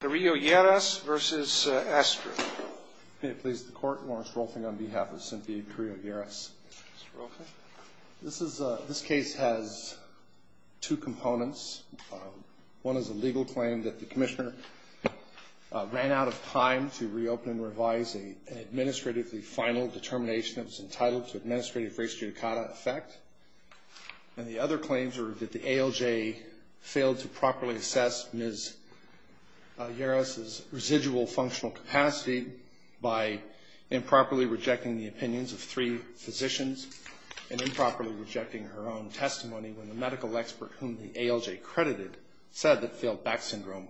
May it please the court, Lawrence Rolfing on behalf of Cynthia Carrillo-Yeras. This case has two components. One is a legal claim that the Commissioner ran out of time to reopen and revise an administratively final determination that was entitled to administrative res judicata effect. And the other claims are that the ALJ failed to properly assess Ms. Yeras' residual functional capacity by improperly rejecting the opinions of three physicians and improperly rejecting her own testimony when the medical expert whom the ALJ credited said that failed back syndrome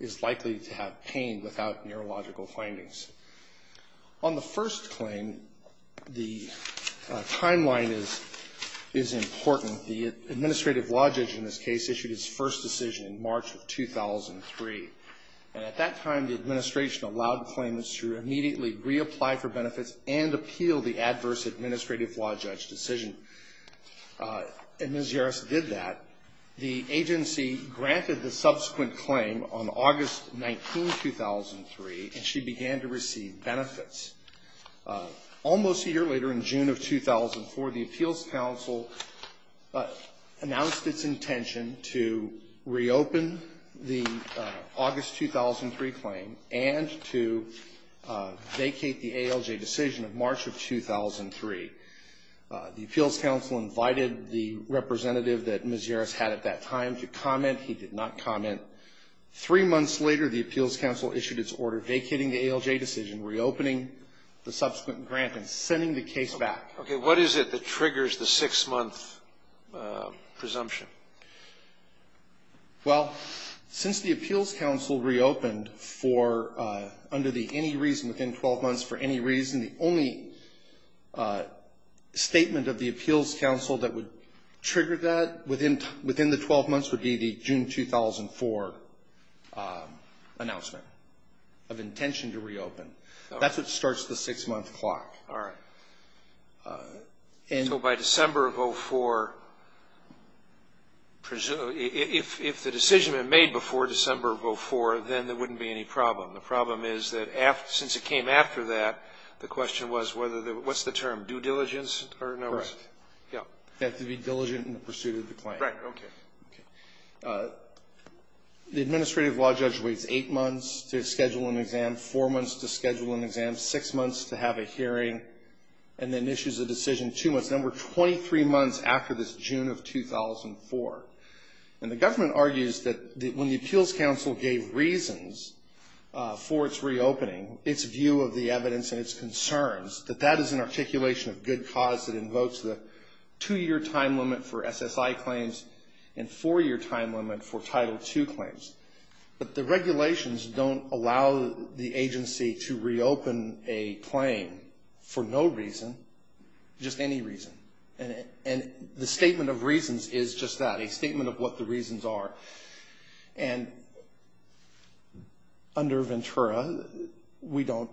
is likely to have pain without neurological findings. On the first claim, the timeline is important. The administrative law judge in this case issued his first decision in March of 2003. And at that time, the administration allowed claimants to immediately reapply for benefits and appeal the adverse administrative law judge decision. And Ms. Yeras did that. The agency granted the subsequent claim on August 19, 2003, and she began to receive benefits. Almost a year later, in June of 2004, the Appeals Council announced its intention to reopen the August 2003 claim and to vacate the ALJ decision of March of 2003. The Appeals Council invited the representative that Ms. Yeras had at that time to comment. He did not comment. Three months later, the Appeals Council issued its order vacating the ALJ decision, reopening the subsequent grant, and sending the case back. Okay. What is it that triggers the six-month presumption? Well, since the Appeals Council reopened for under the any reason within 12 months for any reason, the only statement of the Appeals Council that would trigger that within the 12 months would be the June 2004 announcement of intention to reopen. That's what starts the six-month clock. All right. So by December of 2004, if the decision had been made before December of 2004, then there wouldn't be any problem. The problem is that since it came after that, the question was whether the what's the term, due diligence or no? Correct. Yeah. You have to be diligent in the pursuit of the claim. Right. Okay. The administrative law judge waits eight months to schedule an exam, four months to schedule an exam, six months to have a hearing, and then issues a decision two months. Then we're 23 months after this June of 2004. And the government argues that when the Appeals Council gave reasons for its reopening, its view of the evidence and its concerns, that that is an articulation of good cause that invokes the two-year time limit for SSI claims and four-year time limit for Title II claims. But the regulations don't allow the agency to reopen a claim for no reason, just any reason. And the statement of reasons is just that, a statement of what the reasons are. And under Ventura, we don't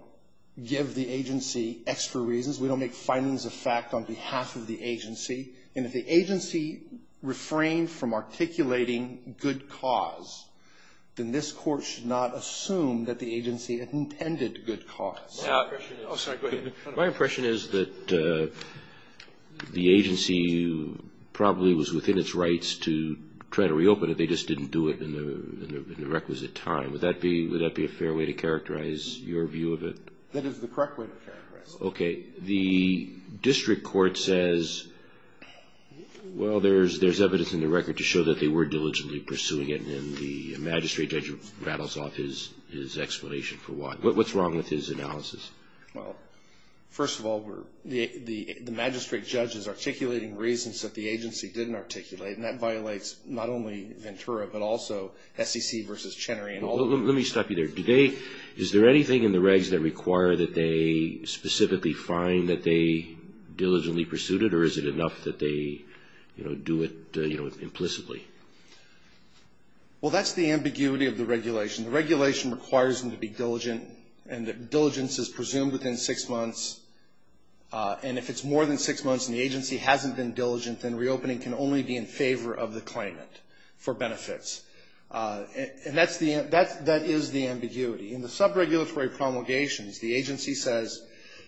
give the agency extra reasons. We don't make findings of fact on behalf of the agency. And if the agency refrained from articulating good cause, then this Court should not assume that the agency intended good cause. My impression is that the agency probably was within its rights to try to reopen it. They just didn't do it in the requisite time. Would that be a fair way to characterize your view of it? That is the correct way to characterize it. Okay. The district court says, well, there's evidence in the record to show that they were diligently pursuing it. And then the magistrate judge rattles off his explanation for why. What's wrong with his analysis? Well, first of all, the magistrate judge is articulating reasons that the agency didn't articulate. And that violates not only Ventura, but also SEC versus Chenery. Let me stop you there. Is there anything in the regs that require that they specifically find that they diligently pursued it? Or is it enough that they do it implicitly? Well, that's the ambiguity of the regulation. The regulation requires them to be diligent, and that diligence is presumed within six months. And if it's more than six months and the agency hasn't been diligent, then reopening can only be in favor of the claimant for benefits. And that's the ambiguity. In the subregulatory promulgations, the agency says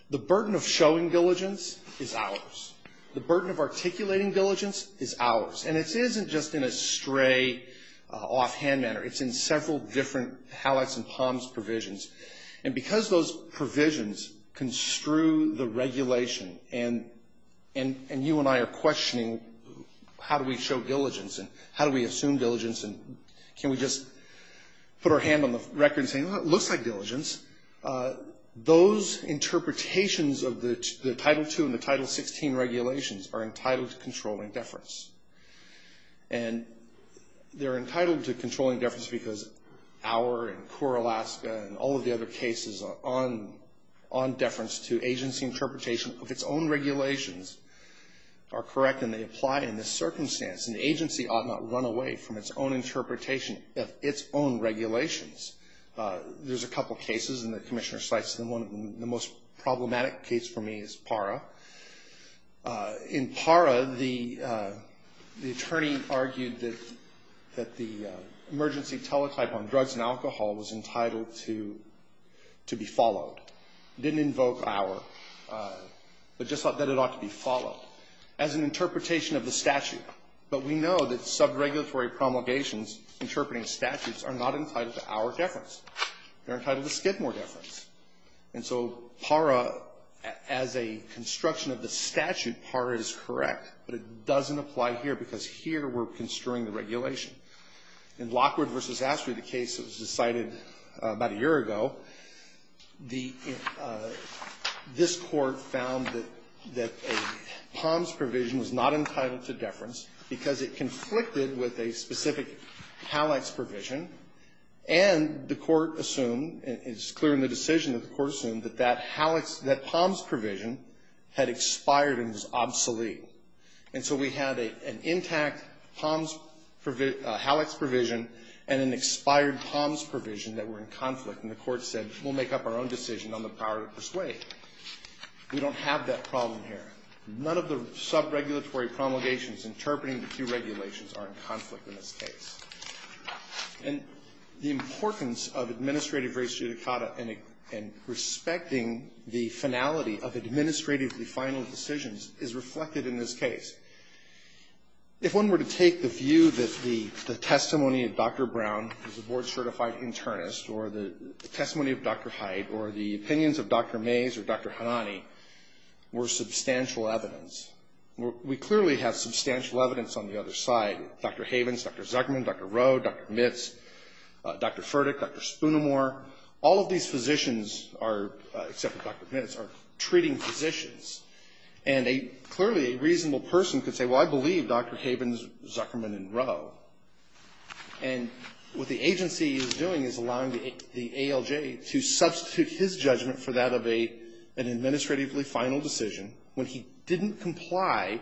the burden of showing diligence is ours. The burden of articulating diligence is ours. And it isn't just in a stray, offhand manner. It's in several different HalEx and HOMS provisions. And because those provisions construe the regulation, and you and I are questioning how do we show diligence and how do we assume diligence and can we just put our hand on the record and say, well, it looks like diligence, those interpretations of the Title II and the Title XVI regulations are entitled to controlling deference. And they're entitled to controlling deference because our and CORE Alaska and all of the other cases on deference to agency interpretation of its own regulations are correct and they apply in this circumstance. An agency ought not run away from its own interpretation of its own regulations. There's a couple cases, and the Commissioner cites the most problematic case for me as PARA. In PARA, the attorney argued that the emergency teletype on drugs and alcohol was entitled to be followed. It didn't invoke our, but just that it ought to be followed as an interpretation of the statute. But we know that subregulatory promulgations interpreting statutes are not entitled to our deference. They're entitled to Skidmore deference. And so PARA, as a construction of the statute, PARA is correct, but it doesn't apply here because here we're construing the regulation. In Lockwood v. Astrey, the case that was decided about a year ago, this Court found that a POMS provision was not entitled to deference because it conflicted with a specific PALEX provision and the Court assumed, and it's clear in the decision that the Court assumed, that that POMS provision had expired and was obsolete. And so we had an intact POMS provision, PALEX provision, and an expired POMS provision that were in conflict. And the Court said, we'll make up our own decision on the power to persuade. We don't have that problem here. None of the subregulatory promulgations interpreting the two regulations are in conflict in this case. And the importance of administrative res judicata and respecting the finality of administratively final decisions is reflected in this case. If one were to take the view that the testimony of Dr. Brown, who's a board-certified internist, or the testimony of Dr. Hyde, or the opinions of Dr. Mays or Dr. Hanani were substantial evidence, we clearly have substantial evidence on the other side. Dr. Havens, Dr. Zuckerman, Dr. Rowe, Dr. Mitts, Dr. Furtick, Dr. Spoonemore, all of these physicians are, except for Dr. Mitts, are treating physicians. And clearly a reasonable person could say, well, I believe Dr. Havens, Zuckerman, and Rowe. And what the agency is doing is allowing the ALJ to substitute his judgment for that of an administratively final decision when he didn't comply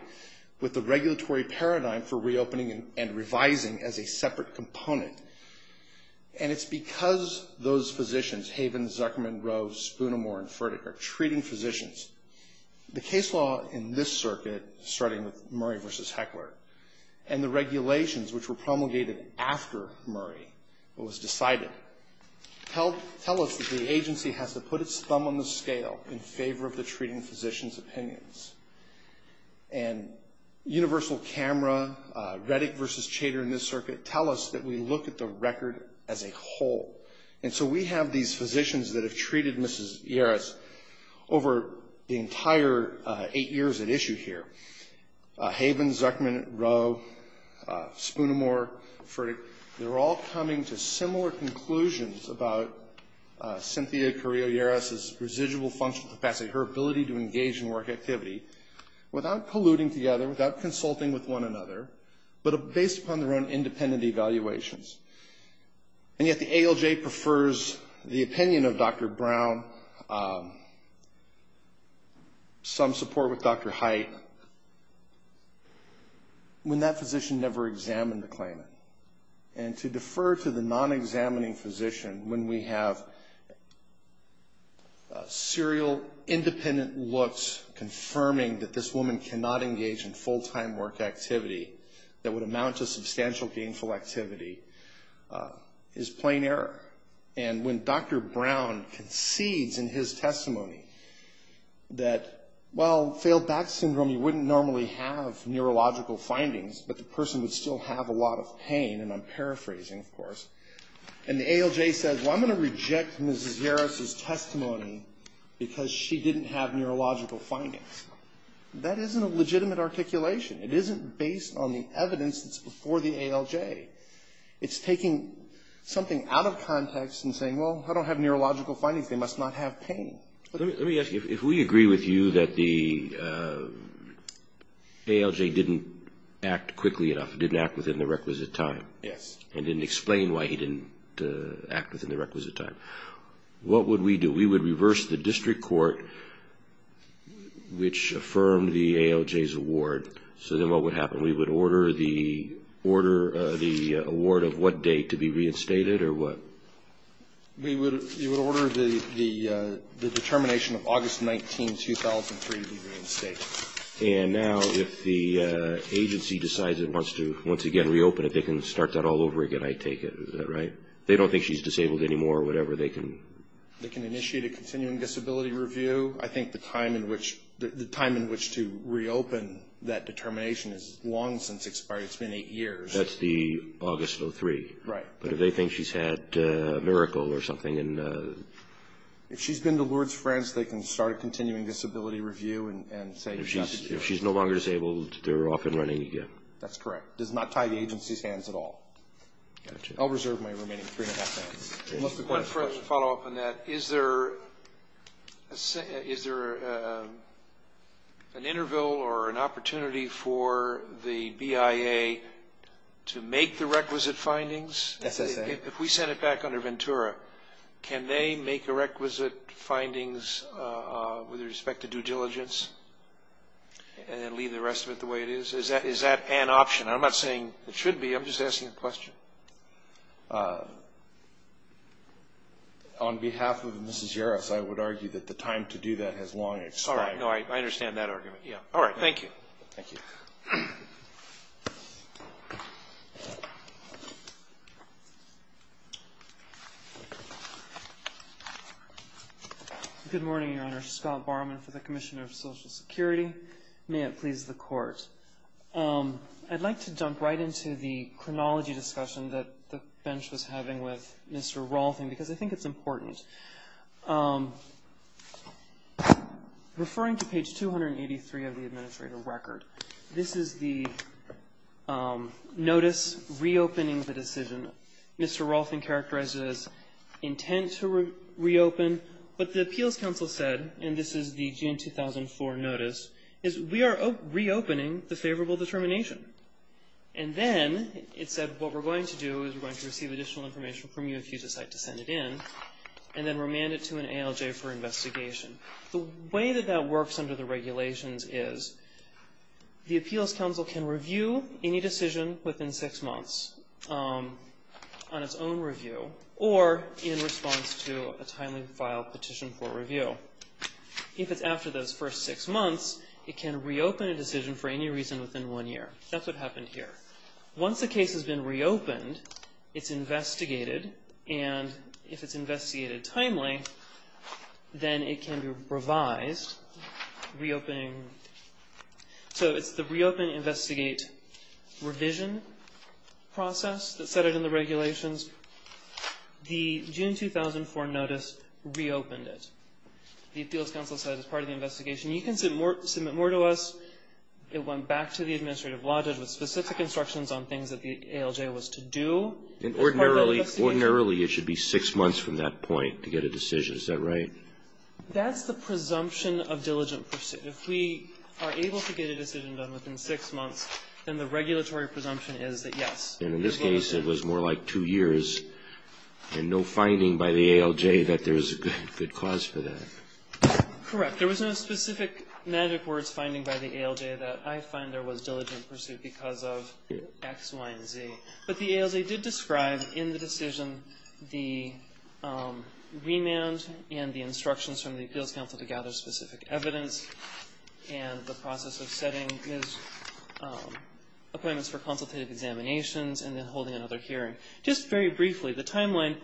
with the regulatory paradigm for reopening and revising as a separate component. And it's because those physicians, Havens, Zuckerman, Rowe, Spoonemore, and Furtick, are treating physicians, the case law in this circuit, starting with Murray v. Heckler, and the regulations which were promulgated after Murray was decided, tell us that the agency has to put its thumb on the scale in favor of the treating physician's opinions. And Universal Camera, Reddick v. Chater in this circuit, tell us that we look at the record as a whole. And so we have these physicians that have treated Mrs. Yarris over the entire eight years at issue here. Havens, Zuckerman, Rowe, Spoonemore, Furtick, they're all coming to similar conclusions about Cynthia Carrillo-Yarris' residual functional capacity, her ability to engage in work activity, without colluding together, without consulting with one another, but based upon their own independent evaluations. And yet the ALJ prefers the opinion of Dr. Brown, some support with Dr. Height, when that physician never examined the claimant. And to defer to the non-examining physician when we have serial, independent looks, confirming that this woman cannot engage in full-time work activity, that would amount to substantial gainful activity, is plain error. And when Dr. Brown concedes in his testimony that, well, failed back syndrome, you wouldn't normally have neurological findings, but the person would still have a lot of pain, and I'm paraphrasing, of course. And the ALJ says, well, I'm going to reject Mrs. Yarris' testimony because she didn't have neurological findings. That isn't a legitimate articulation. It isn't based on the evidence that's before the ALJ. It's taking something out of context and saying, well, I don't have neurological findings. They must not have pain. Let me ask you, if we agree with you that the ALJ didn't act quickly enough, didn't act within the requisite time and didn't explain why he didn't act within the requisite time, what would we do? We would reverse the district court, which affirmed the ALJ's award. So then what would happen? We would order the award of what date to be reinstated or what? We would order the determination of August 19, 2003 to be reinstated. And now if the agency decides it wants to once again reopen it, they can start that all over again, I take it. Is that right? They don't think she's disabled anymore or whatever. They can initiate a continuing disability review. I think the time in which to reopen that determination is long since expired. It's been eight years. That's the August of 03. Right. But if they think she's had a miracle or something. If she's been to Lourdes, France, they can start a continuing disability review and say she's not disabled. If she's no longer disabled, they're off and running again. That's correct. It does not tie the agency's hands at all. Gotcha. I'll reserve my remaining three and a half minutes. Just a quick follow-up on that, is there an interval or an opportunity for the BIA to make the requisite findings? If we send it back under Ventura, can they make the requisite findings with respect to due diligence and leave the rest of it the way it is? Is that an option? I'm not saying it should be. I'm just asking a question. On behalf of Mrs. Jarosz, I would argue that the time to do that has long expired. All right. I understand that argument. All right. Thank you. Thank you. Thank you. Good morning, Your Honor. Scott Barman for the Commissioner of Social Security. May it please the Court. I'd like to jump right into the chronology discussion that the bench was having with Mr. Rawlton because I think it's important. Referring to page 283 of the Administrator Record, this is the notice reopening the decision. Mr. Rawlton characterized it as intent to reopen. What the Appeals Council said, and this is the June 2004 notice, is we are reopening the favorable determination. And then it said what we're going to do is we're going to receive additional information from you if you decide to send it in and then remand it to an ALJ for investigation. The way that that works under the regulations is the Appeals Council can review any decision within six months on its own review or in response to a timely filed petition for review. If it's after those first six months, it can reopen a decision for any reason within one year. That's what happened here. Once a case has been reopened, it's investigated. And if it's investigated timely, then it can be revised, reopening. So it's the reopen, investigate, revision process that set it in the regulations. The June 2004 notice reopened it. The Appeals Council said it's part of the investigation. You can submit more to us. It went back to the administrative lodges with specific instructions on things that the ALJ was to do. And ordinarily, it should be six months from that point to get a decision. Is that right? That's the presumption of diligent pursuit. If we are able to get a decision done within six months, then the regulatory presumption is that, yes, we're going to do it. And in this case, it was more like two years, and no finding by the ALJ that there's a good cause for that. Correct. There was no specific magic words finding by the ALJ that I find there was diligent pursuit because of X, Y, and Z. But the ALJ did describe in the decision the remand and the instructions from the Appeals Council to gather specific evidence. And the process of setting is appointments for consultative examinations and then holding another hearing. Just very briefly, the timeline.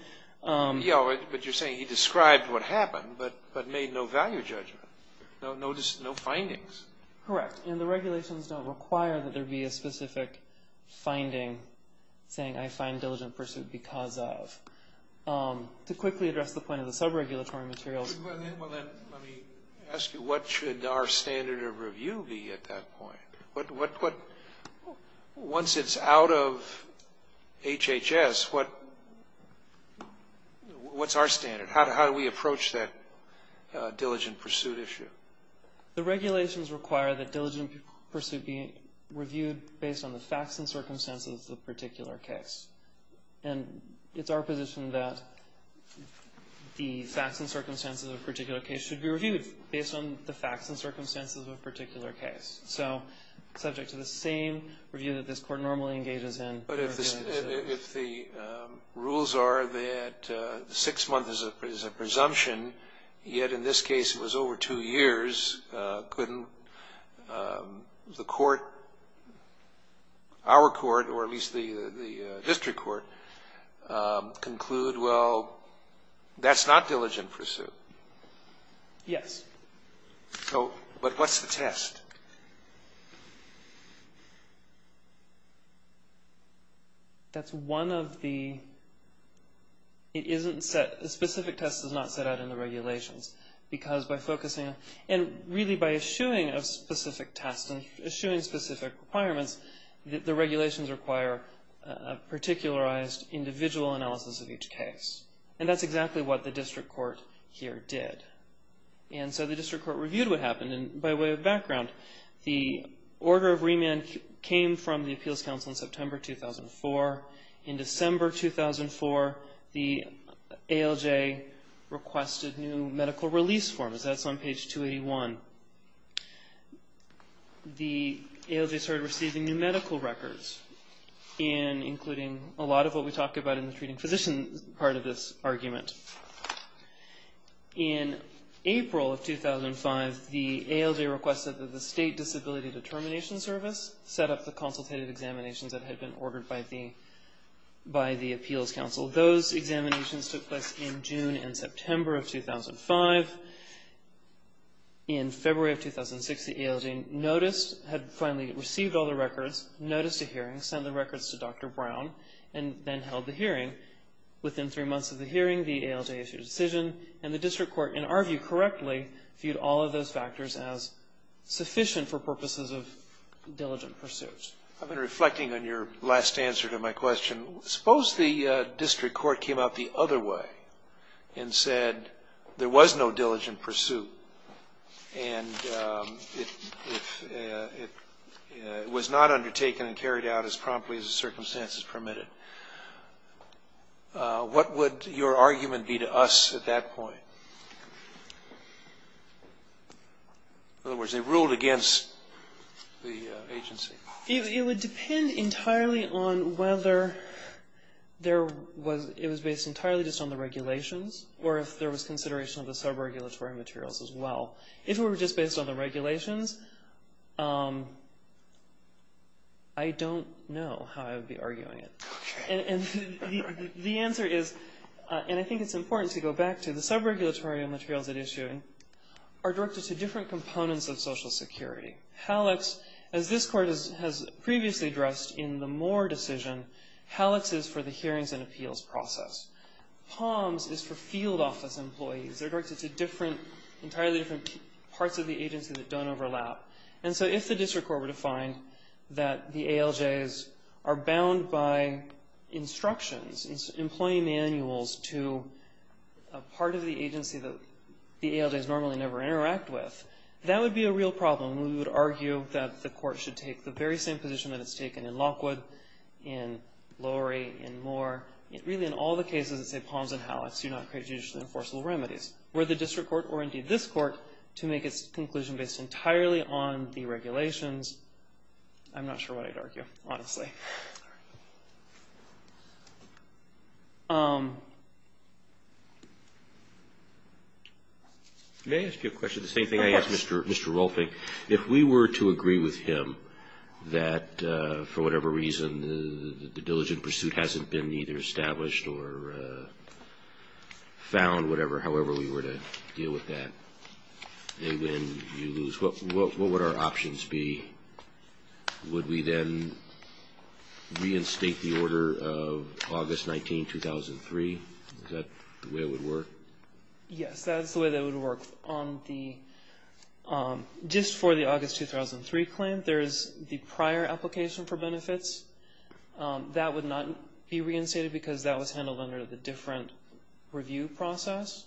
Yeah, but you're saying he described what happened but made no value judgment, no findings. Correct. And the regulations don't require that there be a specific finding saying I find diligent pursuit because of. To quickly address the point of the sub-regulatory materials. Let me ask you, what should our standard of review be at that point? Once it's out of HHS, what's our standard? How do we approach that diligent pursuit issue? The regulations require that diligent pursuit be reviewed based on the facts and circumstances of the particular case. And it's our position that the facts and circumstances of a particular case should be reviewed based on the facts and circumstances of a particular case. So subject to the same review that this Court normally engages in. But if the rules are that six months is a presumption, yet in this case it was over two years, couldn't the Court, our Court, or at least the district court conclude, well, that's not diligent pursuit? Yes. But what's the test? That's one of the, it isn't set, the specific test is not set out in the regulations. Because by focusing, and really by eschewing a specific test and eschewing specific requirements, the regulations require a particularized individual analysis of each case. And that's exactly what the district court here did. And so the district court reviewed what happened. And by way of background, the order of remand came from the Appeals Council in September 2004. In December 2004, the ALJ requested new medical release forms. That's on page 281. The ALJ started receiving new medical records, including a lot of what we talk about in the treating physician part of this argument. In April of 2005, the ALJ requested that the State Disability Determination Service set up the consultative examinations that had been ordered by the Appeals Council. Those examinations took place in June and September of 2005. In February of 2006, the ALJ noticed, had finally received all the records, noticed a hearing, sent the records to Dr. Brown, and then held the hearing. Within three months of the hearing, the ALJ issued a decision, and the district court, in our view correctly, viewed all of those factors as sufficient for purposes of diligent pursuits. I've been reflecting on your last answer to my question. Suppose the district court came out the other way and said there was no diligent pursuit and it was not undertaken and carried out as promptly as the circumstances permitted. What would your argument be to us at that point? In other words, they ruled against the agency. It would depend entirely on whether it was based entirely just on the regulations or if there was consideration of the sub-regulatory materials as well. If it were just based on the regulations, I don't know how I would be arguing it. Okay. And the answer is, and I think it's important to go back to, the sub-regulatory materials at issue are directed to different components of Social Security. HALEX, as this court has previously addressed in the Moore decision, HALEX is for the hearings and appeals process. POMS is for field office employees. They're directed to entirely different parts of the agency that don't overlap. And so if the district court were to find that the ALJs are bound by instructions, employee manuals to a part of the agency that the ALJs normally never interact with, that would be a real problem. We would argue that the court should take the very same position that it's taken in Lockwood, in Lowry, in Moore, really in all the cases that say POMS and HALEX do not create judicially enforceable remedies. Were the district court or indeed this court to make its conclusion based entirely on the regulations, I'm not sure what I'd argue, honestly. Can I ask you a question, the same thing I asked Mr. Rolfing? If we were to agree with him that, for whatever reason, the diligent pursuit hasn't been either established or found, however we were to deal with that, they win, you lose, what would our options be? Would we then reinstate the order of August 19, 2003? Is that the way it would work? Yes, that is the way that it would work. Just for the August 2003 claim, there is the prior application for benefits. That would not be reinstated because that was handled under the different review process.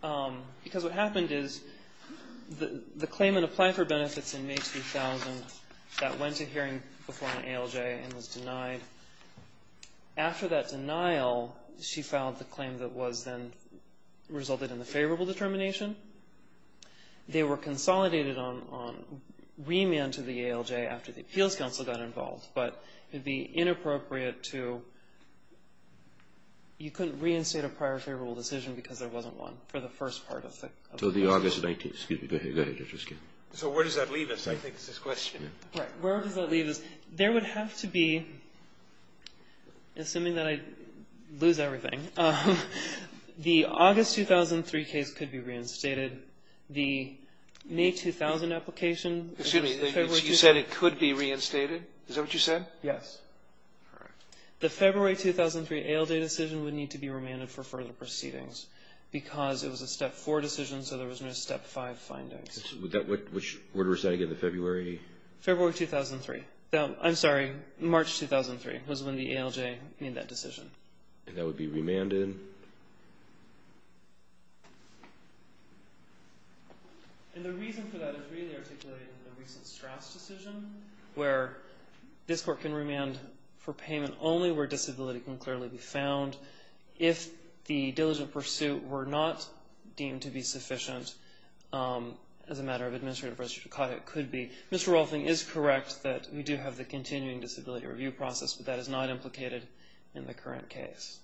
Because what happened is the claimant applied for benefits in May 2000, that went to hearing before an ALJ and was denied. After that denial, she filed the claim that was then resulted in the favorable determination. They were consolidated on remand to the ALJ after the Appeals Council got involved. But it would be inappropriate to you couldn't reinstate a prior favorable decision because there wasn't one for the first part of that. So the August 19, excuse me. Go ahead. So where does that leave us? I think it's his question. Right. Where does that leave us? There would have to be, assuming that I lose everything, the August 2003 case could be reinstated. The May 2000 application. Excuse me. You said it could be reinstated. Is that what you said? Yes. Correct. The February 2003 ALJ decision would need to be remanded for further proceedings because it was a Step 4 decision, so there was no Step 5 findings. Which order was that again, the February? February 2003. I'm sorry, March 2003 was when the ALJ made that decision. And that would be remanded. And the reason for that is really articulated in the recent Strass decision where this court can remand for payment only where disability can clearly be found. If the diligent pursuit were not deemed to be sufficient as a matter of administrative Mr. Rolfing is correct that we do have the continuing disability review process, but that is not implicated in the current case.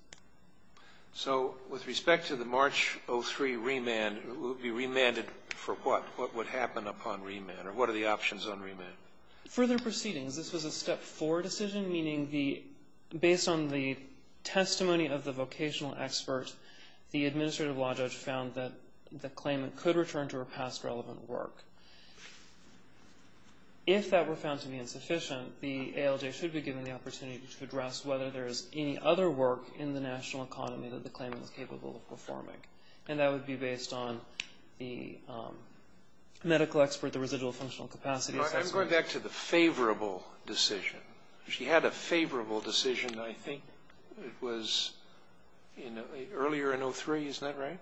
So with respect to the March 2003 remand, it would be remanded for what? What would happen upon remand, or what are the options on remand? Further proceedings. This was a Step 4 decision, meaning based on the testimony of the vocational expert, the administrative law judge found that the claimant could return to her past relevant work. If that were found to be insufficient, the ALJ should be given the opportunity to address whether there is any other work in the national economy that the claimant is capable of performing. And that would be based on the medical expert, the residual functional capacity assessment. I'm going back to the favorable decision. She had a favorable decision, I think. It was earlier in 2003, isn't that right?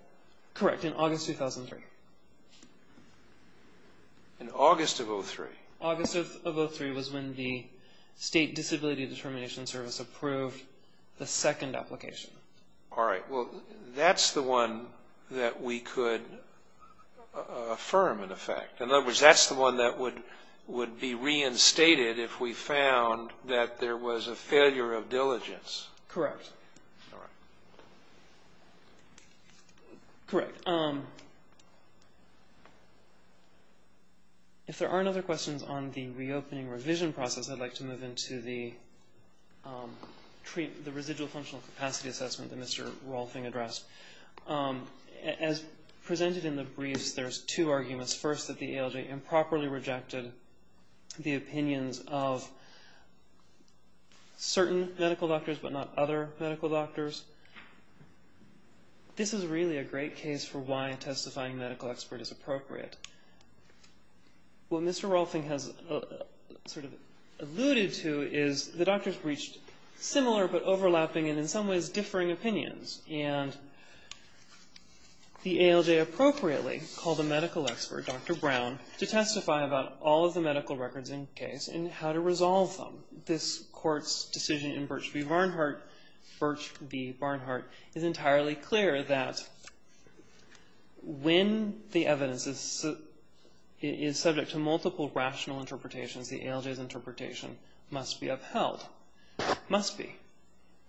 Correct, in August 2003. In August of 2003? August of 2003 was when the State Disability Determination Service approved the second application. All right. Well, that's the one that we could affirm in effect. In other words, that's the one that would be reinstated if we found that there was a failure of diligence. Correct. All right. Correct. If there aren't other questions on the reopening revision process, I'd like to move into the residual functional capacity assessment that Mr. Rolfing addressed. As presented in the briefs, there's two arguments. First, that the ALJ improperly rejected the opinions of certain medical doctors but not other medical doctors. This is really a great case for why testifying medical expert is appropriate. What Mr. Rolfing has sort of alluded to is the doctors reached similar but overlapping and in some ways differing opinions. And the ALJ appropriately called a medical expert, Dr. Brown, to testify about all of the medical records in the case and how to resolve them. This court's decision in Birch v. Barnhart is entirely clear that when the evidence is subject to multiple rational interpretations, the ALJ's interpretation must be upheld. Must be.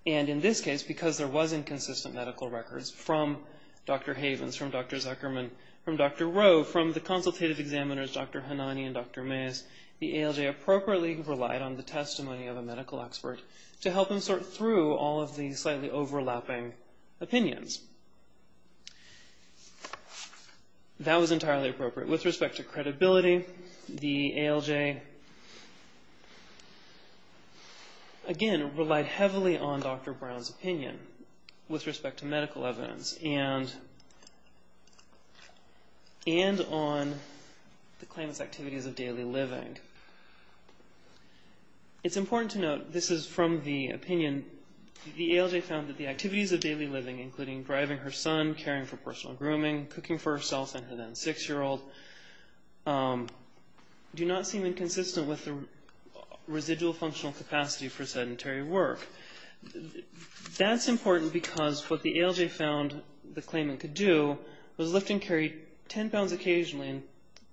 And in this case, because there was inconsistent medical records from Dr. Havens, from Dr. Zuckerman, from Dr. Rowe, from the consultative examiners, Dr. Hanani and Dr. Mayes, the ALJ appropriately relied on the testimony of a medical expert to help them sort through all of the slightly overlapping opinions. That was entirely appropriate. With respect to credibility, the ALJ, again, relied heavily on Dr. Brown's opinion with respect to medical evidence and on the claimant's activities of daily living. It's important to note, this is from the opinion, the ALJ found that the activities of daily living, including driving her son, caring for personal grooming, cooking for herself and her then six-year-old, do not seem inconsistent with the residual functional capacity for sedentary work. That's important because what the ALJ found the claimant could do was lift and carry ten pounds occasionally and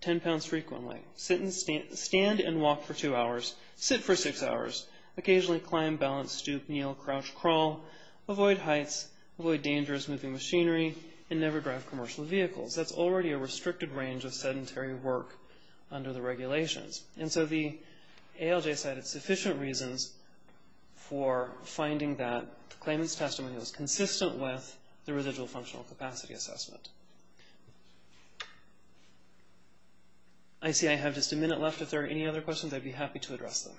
ten pounds frequently, stand and walk for two hours, sit for six hours, occasionally climb, balance, stoop, kneel, crouch, crawl, avoid heights, avoid dangerous moving machinery, and never drive commercial vehicles. That's already a restricted range of sedentary work under the regulations. And so the ALJ cited sufficient reasons for finding that the claimant's testimony was consistent with the residual functional capacity assessment. I see I have just a minute left. If there are any other questions, I'd be happy to address them.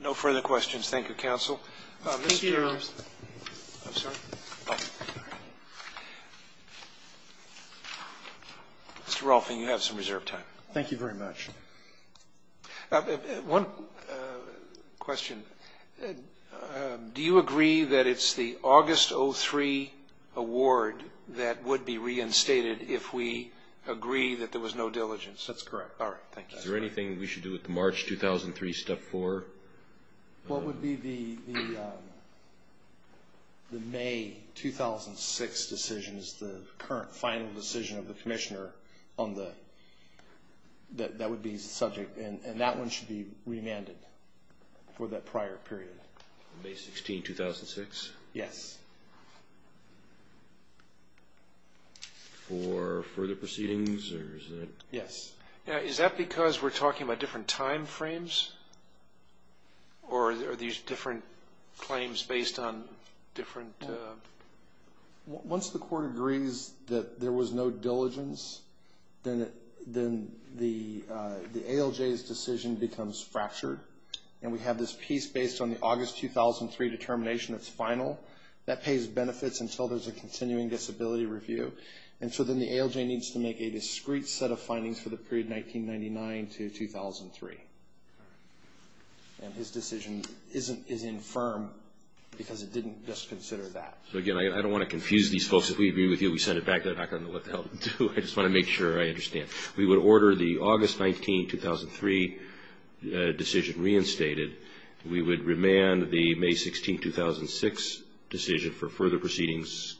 No further questions. Thank you, counsel. Mr. Rolfing, you have some reserved time. Thank you very much. One question. Do you agree that it's the August 03 award that would be reinstated if we agree that there was no diligence? That's correct. All right. Thank you. Is there anything we should do with the March 2003 step 4? What would be the May 2006 decision, the current final decision of the commissioner, that would be subject? And that one should be remanded for that prior period. May 16, 2006? Yes. For further proceedings? Yes. Is that because we're talking about different time frames or are these different claims based on different? Once the court agrees that there was no diligence, then the ALJ's decision becomes fractured. And we have this piece based on the August 2003 determination that's final. That pays benefits until there's a continuing disability review. And so then the ALJ needs to make a discrete set of findings for the period 1999 to 2003. And his decision is infirm because it didn't just consider that. So, again, I don't want to confuse these folks. If we agree with you, we send it back. They're not going to know what the hell to do. I just want to make sure I understand. We would order the August 19, 2003 decision reinstated. We would remand the May 16, 2006 decision for further proceedings.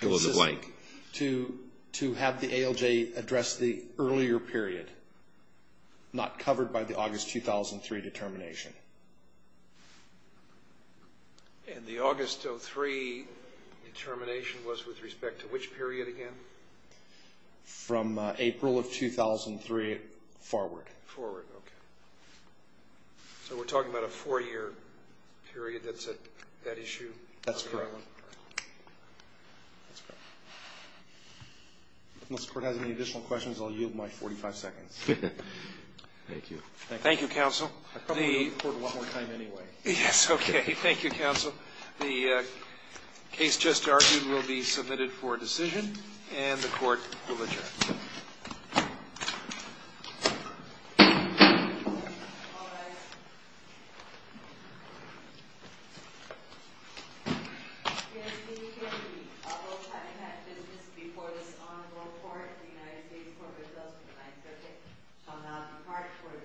It was a blank. To have the ALJ address the earlier period, not covered by the August 2003 determination. And the August 2003 determination was with respect to which period again? From April of 2003 forward. Forward, okay. So we're talking about a four-year period that's at issue? That's correct. Unless the Court has any additional questions, I'll yield my 45 seconds. Thank you. Thank you, Counsel. I probably owe the Court a lot more time anyway. Yes, okay. Thank you, Counsel. The case just argued will be submitted for decision, and the Court will adjourn. Yes, we agree. Both having had business before this Honorable Court, the United States Court of Appeals for the Ninth Circuit, shall now depart for this Court. Now stand adjourned.